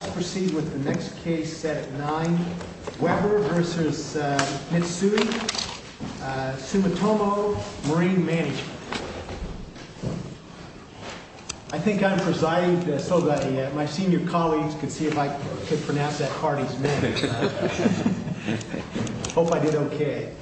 Let's proceed with the next case, Senate 9, Weber v. Mitsui Sumitomo Marine Management. I think I'm presiding so that my senior colleagues could see if I could pronounce that party's name. I hope I did okay.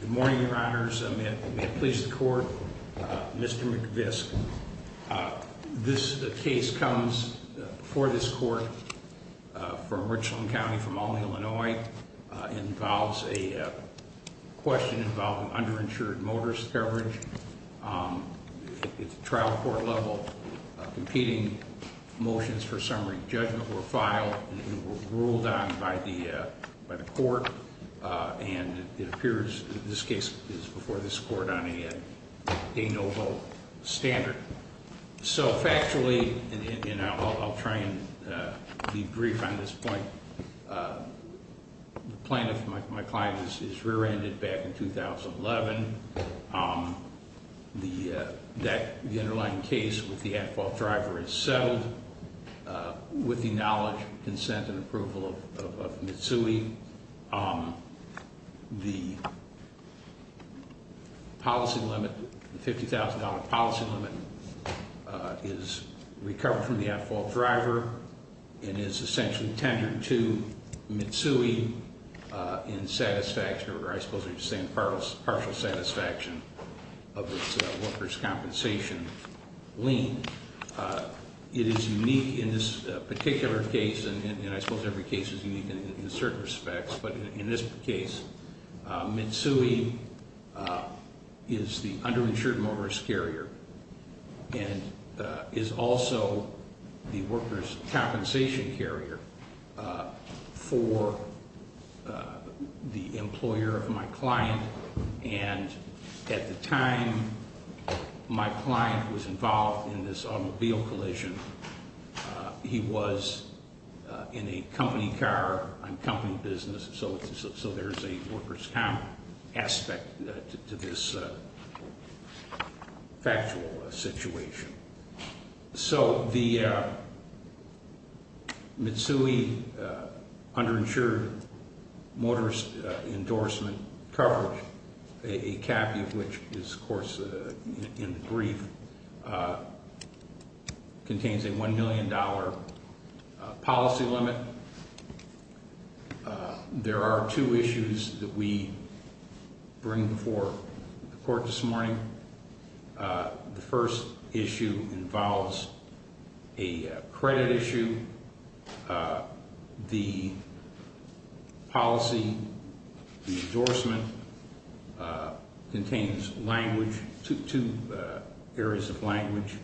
Good morning, Your Honors, and may it please the Court, Mr. McVisk, this case comes before this Court from Richland County, from Albany, Illinois. It involves a question involving underinsured motorist coverage at the trial court level. Competing motions for summary judgment were filed and were ruled on by the Court, and it appears that this case is before this Court on a no vote standard. So factually, and I'll try and be brief on this point, the plaintiff, my client, is rear-ended back in 2011. The underlying case with the at-fault driver is settled with the knowledge, consent, and approval of Mitsui. The policy limit, the $50,000 policy limit, is recovered from the at-fault driver and is essentially tenured to Mitsui in satisfaction, or I suppose I'm just saying partial satisfaction, of its workers' compensation lien. It is unique in this particular case, and I suppose every case is unique in certain respects, but in this case, Mitsui is the underinsured motorist carrier and is also the workers' compensation carrier for the employer of my client, and at the time my client was in this automobile collision, he was in a company car on company business, so there's a workers' comp aspect to this factual situation. So the Mitsui underinsured motorist endorsement coverage, a caveat which is, of course, in the brief, contains a $1 million policy limit. There are two issues that we bring before the court this morning. The first issue involves a credit issue. The policy, the endorsement, contains language, two areas of language,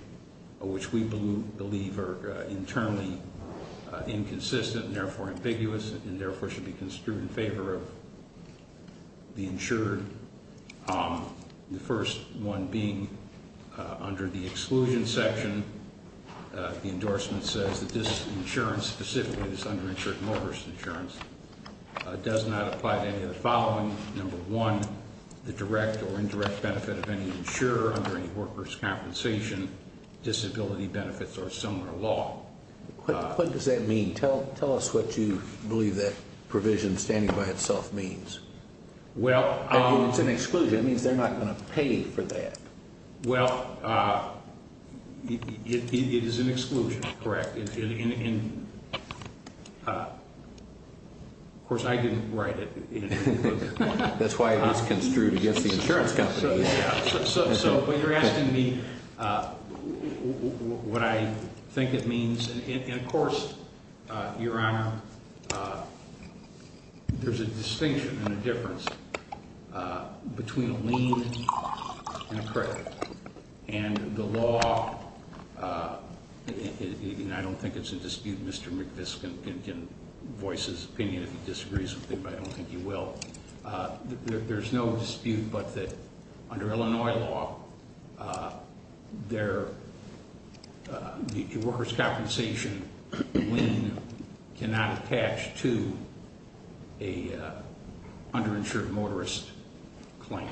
which we believe are internally inconsistent and therefore ambiguous and therefore should be construed in favor of the insured. The first one being under the exclusion section, the endorsement says that this insurance, specifically this underinsured motorist insurance, does not apply to any of the following. Number one, the direct or indirect benefit of any insurer under any workers' compensation disability benefits or similar law. What does that mean? Tell us what you believe that provision standing by itself means. It's an exclusion. It means they're not going to pay for that. Well, it is an exclusion, correct. Of course, I didn't write it. That's why it was construed against the insurance company. So you're asking me what I think it means. And of course, Your Honor, there's a distinction and a difference between a lien and a credit. And the law, and I don't think it's in dispute, Mr. McViscum can voice his opinion if he disagrees with me, but I don't think he will. There's no dispute, but under Illinois law, the workers' compensation lien cannot attach to an underinsured motorist claim.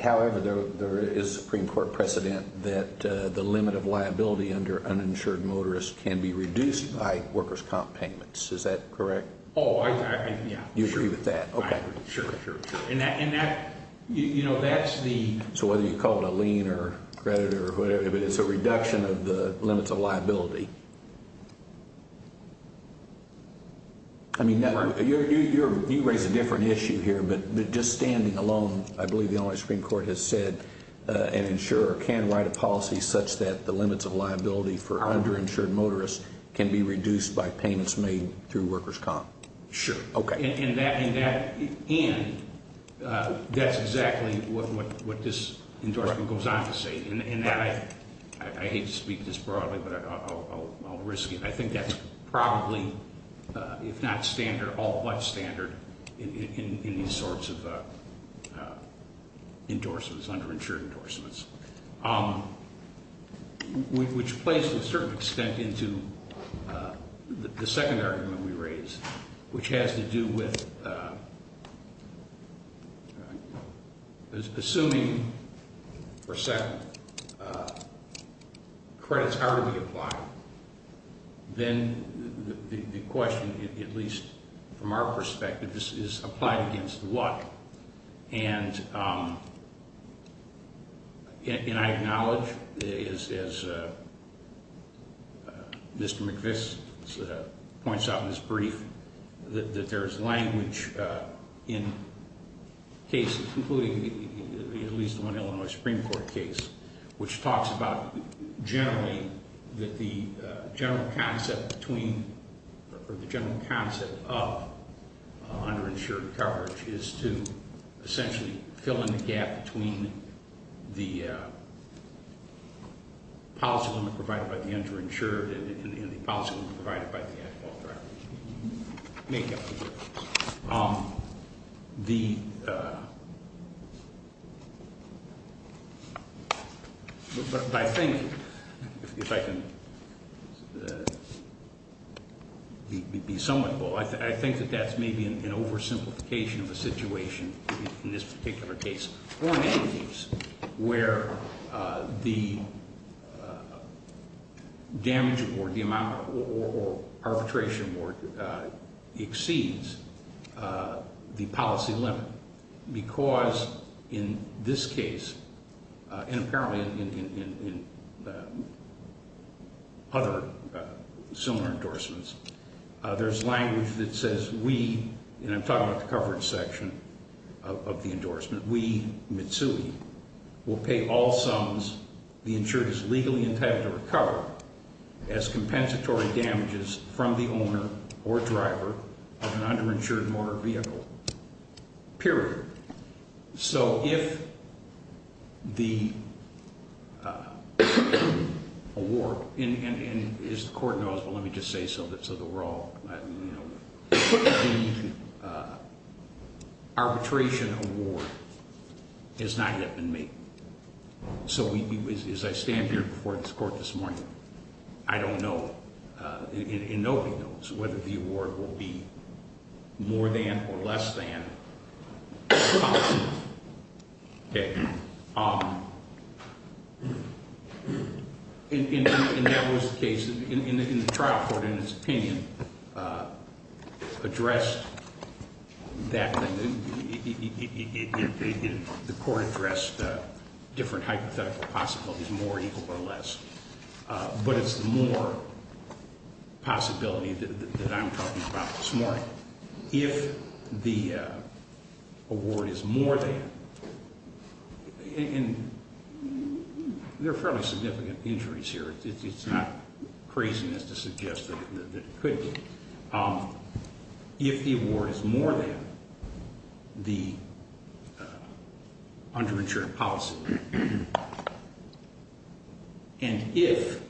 However, there is Supreme Court precedent that the limit of liability under uninsured motorists can be reduced by workers' comp payments. Is that correct? Oh, yeah. You agree with that? I agree. Sure, sure, sure. So whether you call it a lien or credit or whatever, it's a reduction of the limits of liability. I mean, you raise a different issue here, but just standing alone, I believe the Illinois Supreme Court has said an insurer can write a policy such that the limits of liability for underinsured motorists can be reduced by payments made through workers' comp. Sure. Okay. And that's exactly what this endorsement goes on to say. I hate to speak this broadly, but I'll risk it. I think that's probably, if not standard, all but standard in these sorts of endorsements, underinsured endorsements, which plays to a certain extent into the second argument we raised, which has to do with assuming, for a second, credits are to be applied, then the question, at least from our perspective, is applied against what? And I acknowledge, as Mr. McVix points out in his brief, that there is language in cases, including at least one Illinois Supreme Court case, which talks about generally that the general concept of underinsured coverage is to essentially fill in the gap between the policy limit provided by the underinsured and the policy limit provided by the at-fault driver. I think, if I can be somewhat bold, I think that that's maybe an oversimplification of a situation in this particular case, or in any case, where the damage award, the amount, or arbitration award exceeds the policy limit, because in this case, and apparently in other similar of the endorsement, we, Mitsui, will pay all sums the insured is legally entitled to recover as compensatory damages from the owner or driver of an underinsured motor vehicle, period. So if the award, and as the Court knows, but let me just say so that we're all, you know, the arbitration award has not yet been made. So as I stand here before this Court this morning, I don't know, in open notes, whether the award will be more than or less than the policy limit. Okay. And that was the case, and the trial court, in its opinion, addressed that thing. The Court addressed different hypothetical possibilities, more equal or less, but it's more possibility that I'm talking about this morning. If the award is more than, and there are fairly significant injuries here. It's not craziness to suggest that it could be. If the award is more than the underinsured policy limit, and if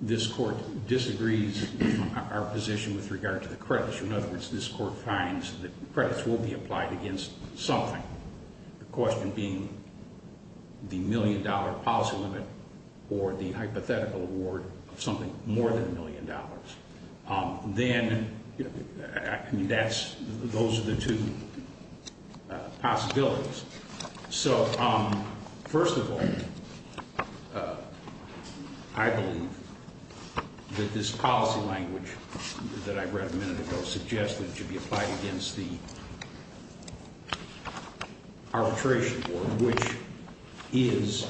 this Court disagrees our position with regard to the credits, in other words, this Court finds that credits will be applied against something, the question being the million-dollar policy limit or the hypothetical award of something more than a million dollars. Then, I mean, that's, those are the two possibilities. So first of all, I believe that this policy language that I read a minute ago suggests that it should be applied against the arbitration award, which is,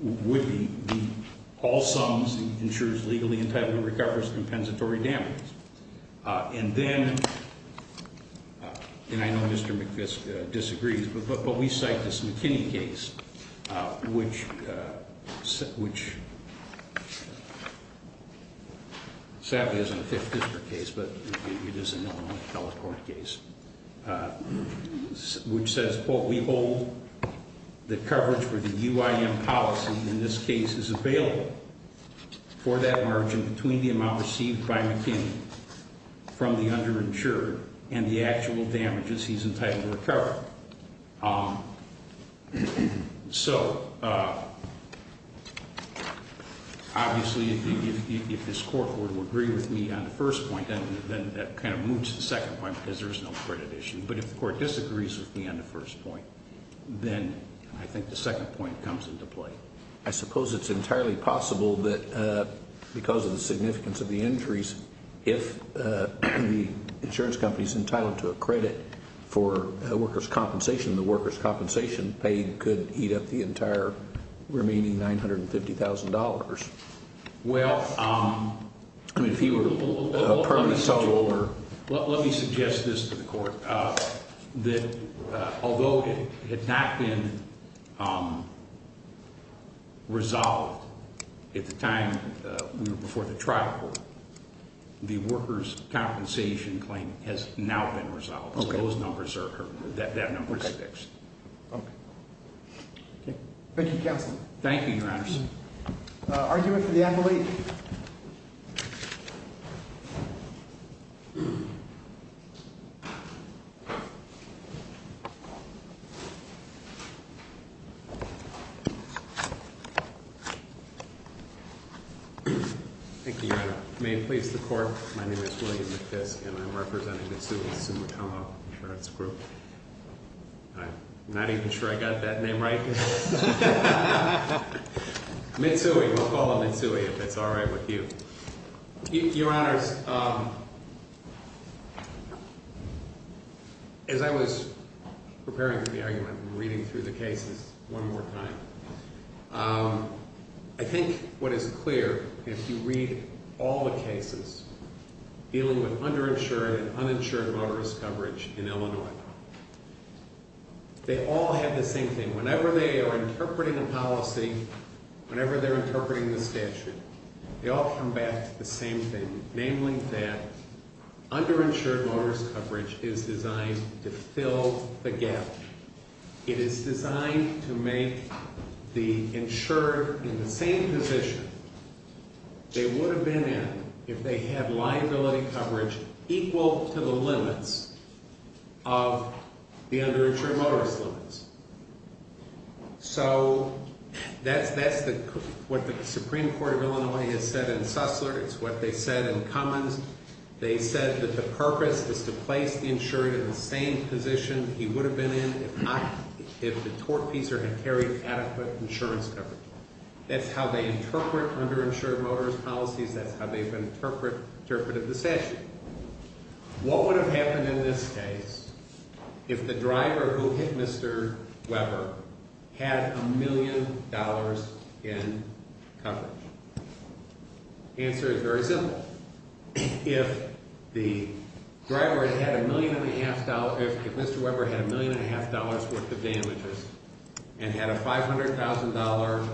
would be the, all sums insured legally entitlement recovers compensatory damage. And then, and I know Mr. McFisk disagrees, but we cite this McKinney case, which, which sadly isn't a Fifth District case, but it is an Illinois Teleport case, which says, quote, we hold the coverage for the UIM policy in this case is available for that margin between the amount received by McKinney from the underinsured and the actual damages he's entitled to recover. So, obviously, if this Court were to agree with me on the first point, then that kind of moves to the second point because there's no credit issue. But if the Court disagrees with me on the first point, then I think the second point comes into play. I suppose it's entirely possible that because of the significance of the injuries, if the workers' compensation paid could eat up the entire remaining $950,000. Well, let me suggest this to the Court, that although it had not been resolved at the time before the trial court, the workers' compensation claim has now been resolved. Okay. Those numbers are, that number is fixed. Okay. Okay. Thank you, Counselor. Thank you, Your Honor. Argument for the advocate. Thank you, Your Honor. May it please the Court. My name is William McFisk, and I'm representing Mitsui Sumitomo Insurance Group. I'm not even sure I got that name right. Mitsui. We'll call him Mitsui if it's all right with you. Your Honors, as I was preparing for the argument and reading through the cases one more time, I think what is clear, if you read all the cases dealing with underinsured and uninsured motorist coverage in Illinois, they all have the same thing. Whenever they are interpreting a policy, whenever they're interpreting the statute, they all come back to the same thing, namely that underinsured motorist coverage is designed to fill the gap. It is designed to make the insured in the same position they would have been in if they had liability coverage equal to the limits of the underinsured motorist limits. So, that's what the Supreme Court of Illinois has said in Sussler. They said that the purpose is to place the insured in the same position he would have been in if the tortfeasor had carried adequate insurance coverage. That's how they interpret underinsured motorist policies. That's how they've interpreted the statute. What would have happened in this case if the driver who hit Mr. Weber had a million dollars in coverage? The answer is very simple. If Mr. Weber had a million and a half dollars worth of damages and had a $500,000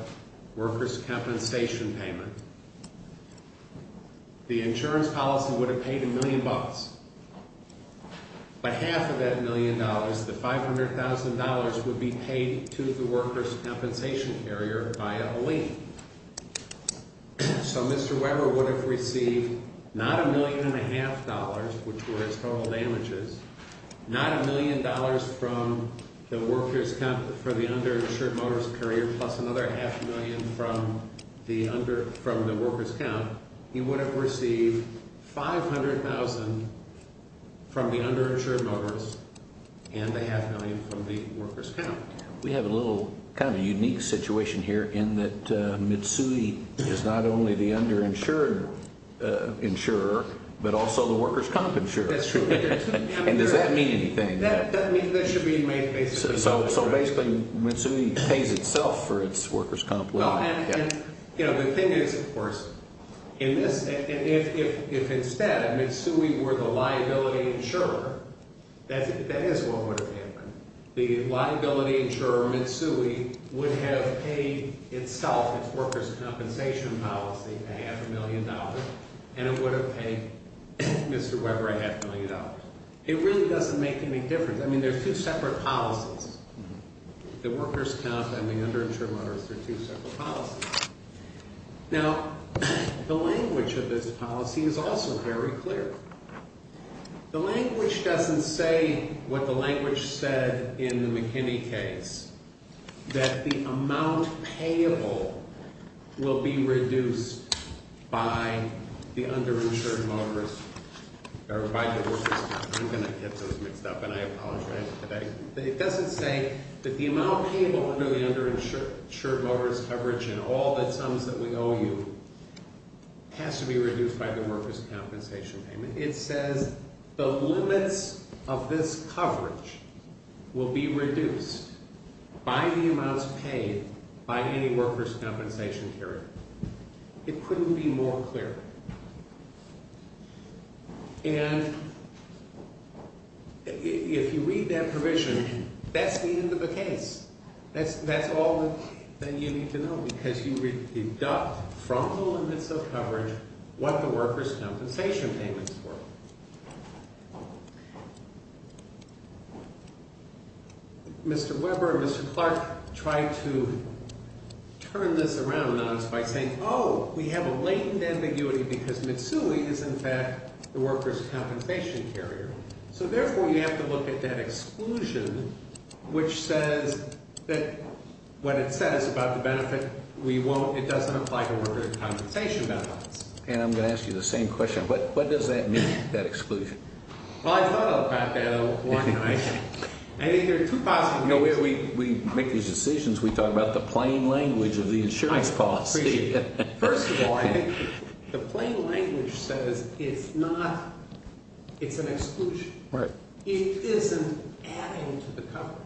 workers compensation payment, the insurance policy would have paid a million bucks. By half of that million dollars, the $500,000 would be paid to the workers compensation carrier by a lien. So, Mr. Weber would have received not a million and a half dollars, which were his total damages, not a million dollars from the workers comp for the underinsured motorist carrier plus another half a million from the workers comp. He would have received $500,000 from the underinsured motorist and a half million from the workers comp. We have a little kind of unique situation here in that Mitsui is not only the underinsured insurer, but also the workers comp insurer. That's true. And does that mean anything? That should be made clear. So, basically, Mitsui pays itself for its workers comp. Well, and the thing is, of course, if instead Mitsui were the liability insurer, that is what would have happened. The liability insurer, Mitsui, would have paid itself, its workers compensation policy, a half a million dollars, and it would have paid Mr. Weber a half million dollars. It really doesn't make any difference. I mean, they're two separate policies. The workers comp and the underinsured motorist are two separate policies. Now, the language of this policy is also very clear. The language doesn't say what the language said in the McKinney case, that the amount payable will be reduced by the underinsured motorist or by the workers comp. I'm going to get this mixed up, and I apologize. It doesn't say that the amount payable under the underinsured motorist coverage and all the sums that we owe you has to be reduced by the workers compensation payment. It says the limits of this coverage will be reduced by the amounts paid by any workers compensation carrier. It couldn't be more clear. And if you read that provision, that's the end of the case. That's all that you need to know, because you deduct from the limits of coverage what the workers compensation payments were. Mr. Weber and Mr. Clark tried to turn this around on us by saying, oh, we have a latent ambiguity because Mitsui is, in fact, the workers compensation carrier. So therefore, you have to look at that exclusion, which says that what it says about the benefit we want, it doesn't apply to workers compensation benefits. And I'm going to ask you the same question. What does that mean, that exclusion? Well, I thought about that one night. I think there are two possible reasons. We make these decisions. We talk about the plain language of the insurance policy. I appreciate that. First of all, I think the plain language says it's an exclusion. It isn't adding to the coverage.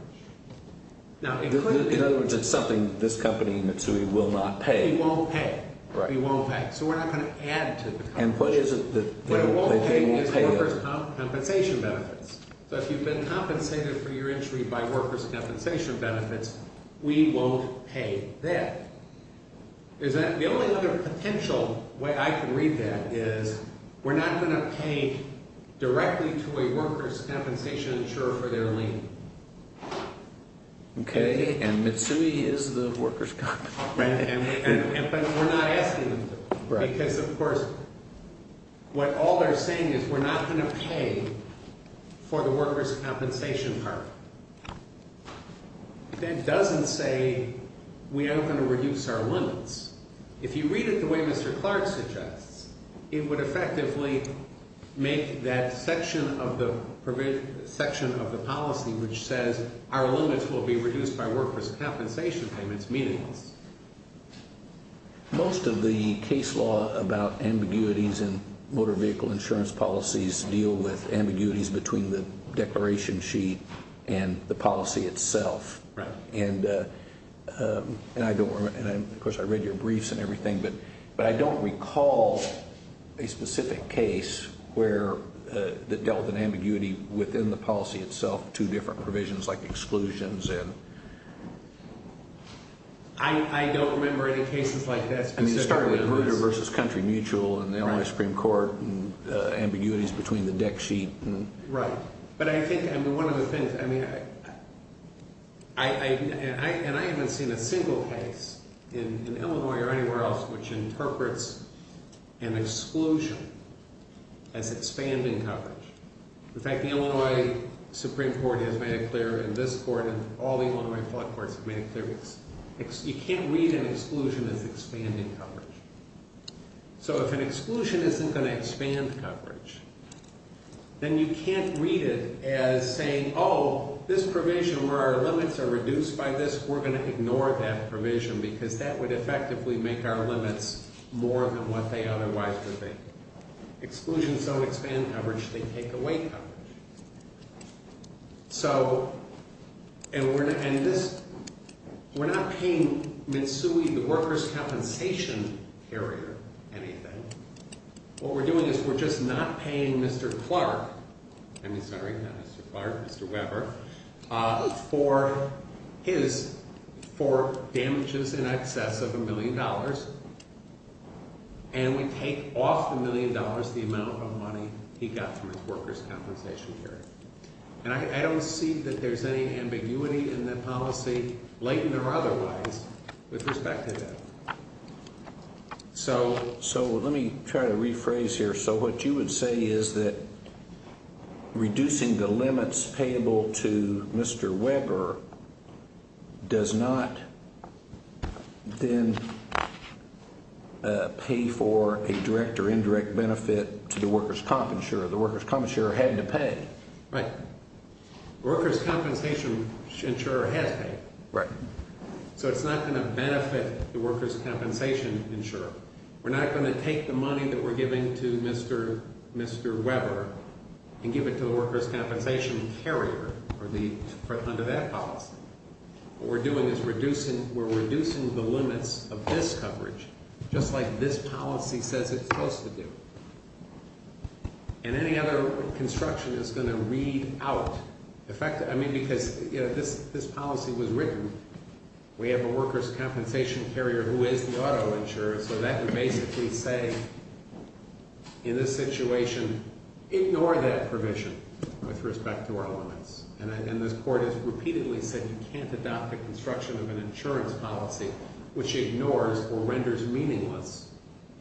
In other words, it's something this company, Mitsui, will not pay. We won't pay. We won't pay. So we're not going to add to the coverage. What it won't pay is workers compensation benefits. So if you've been compensated for your injury by workers compensation benefits, we won't pay that. The only other potential way I can read that is we're not going to pay directly to a workers compensation insurer for their lien. Okay. And Mitsui is the workers company. Right. But we're not asking them to. Because, of course, what all they're saying is we're not going to pay for the workers compensation part. That doesn't say we aren't going to reduce our limits. If you read it the way Mr. Clark suggests, it would effectively make that section of the policy which says our limits will be reduced by workers compensation payments meaningless. Most of the case law about ambiguities in motor vehicle insurance policies deal with itself. And, of course, I read your briefs and everything. But I don't recall a specific case where it dealt with an ambiguity within the policy itself. Two different provisions like exclusions. I don't remember any cases like that. I mean, starting with motor versus country mutual and the Illinois Supreme Court and ambiguities between the deck sheet. Right. But I think one of the things, I mean, and I haven't seen a single case in Illinois or anywhere else which interprets an exclusion as expanding coverage. In fact, the Illinois Supreme Court has made it clear and this court and all the Illinois flood courts have made it clear. You can't read an exclusion as expanding coverage. So if an exclusion isn't going to expand coverage, then you can't read it as saying, oh, this provision where our limits are reduced by this, we're going to ignore that provision because that would effectively make our limits more than what they otherwise would be. Exclusions don't expand coverage. They take away coverage. So, and we're not paying Mitsui, the workers' compensation carrier, anything. What we're doing is we're just not paying Mr. Clark, I mean, sorry, not Mr. Clark, Mr. Weber, for his, for damages in excess of a million dollars and we take off the million dollars, the amount of money he got from his workers' compensation carrier. And I don't see that there's any ambiguity in that policy, latent or otherwise, with respect to that. So let me try to rephrase here. So what you would say is that reducing the limits payable to Mr. Weber does not then pay for a direct or indirect benefit to the workers' comp insurer. The workers' comp insurer had to pay. Right. Workers' compensation insurer has paid. Right. So it's not going to benefit the workers' compensation insurer. We're not going to take the money that we're giving to Mr. Weber and give it to the workers' compensation carrier under that policy. What we're doing is reducing, we're reducing the limits of this coverage just like this policy says it's supposed to do. And any other construction is going to read out the fact, I mean, because, you know, this policy was written. We have a workers' compensation carrier who is the auto insurer, so that would basically say in this situation, ignore that provision with respect to our limits. And this court has repeatedly said you can't adopt a construction of an insurance policy which ignores or renders meaningless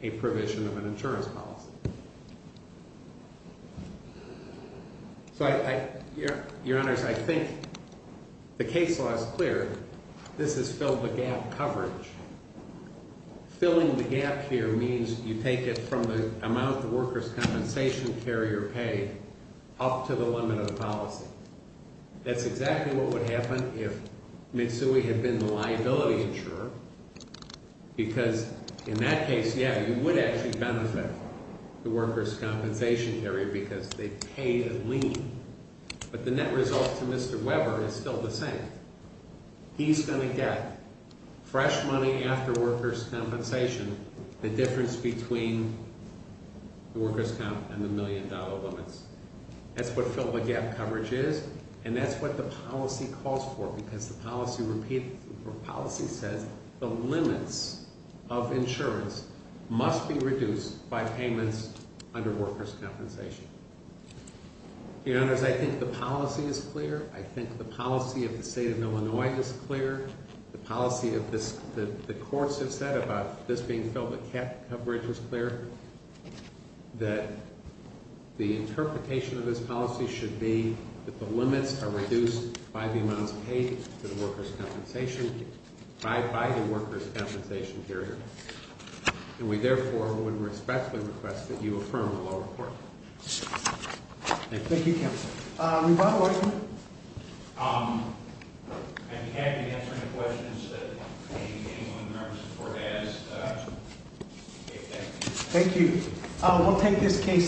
a provision of an insurance policy. So I, Your Honors, I think the case law is clear. This has filled the gap coverage. Filling the gap here means you take it from the amount the workers' compensation carrier paid up to the limit of the policy. That's exactly what would happen if Mitsui had been the liability insurer because in that case, yeah, you would actually benefit the workers' compensation carrier because they paid a lien. But the net result to Mr. Weber is still the same. He's going to get fresh money after workers' compensation, the difference between the workers' comp and the million-dollar limits. That's what filled the gap coverage is, and that's what the policy calls for because the policy says the limits of insurance must be reduced by payments under workers' compensation. Your Honors, I think the policy is clear. I think the policy of the State of Illinois is clear. The policy of this, the courts have said about this being filled the gap coverage is clear, that the interpretation of this policy should be that the limits are reduced by the amounts paid to the workers' compensation, by the workers' compensation carrier, and we therefore would respectfully request that you affirm the law report. Thank you. Thank you, Counselor. Reba, what are you doing? I'd be happy to answer any questions that anyone in the room has before they ask. Thank you.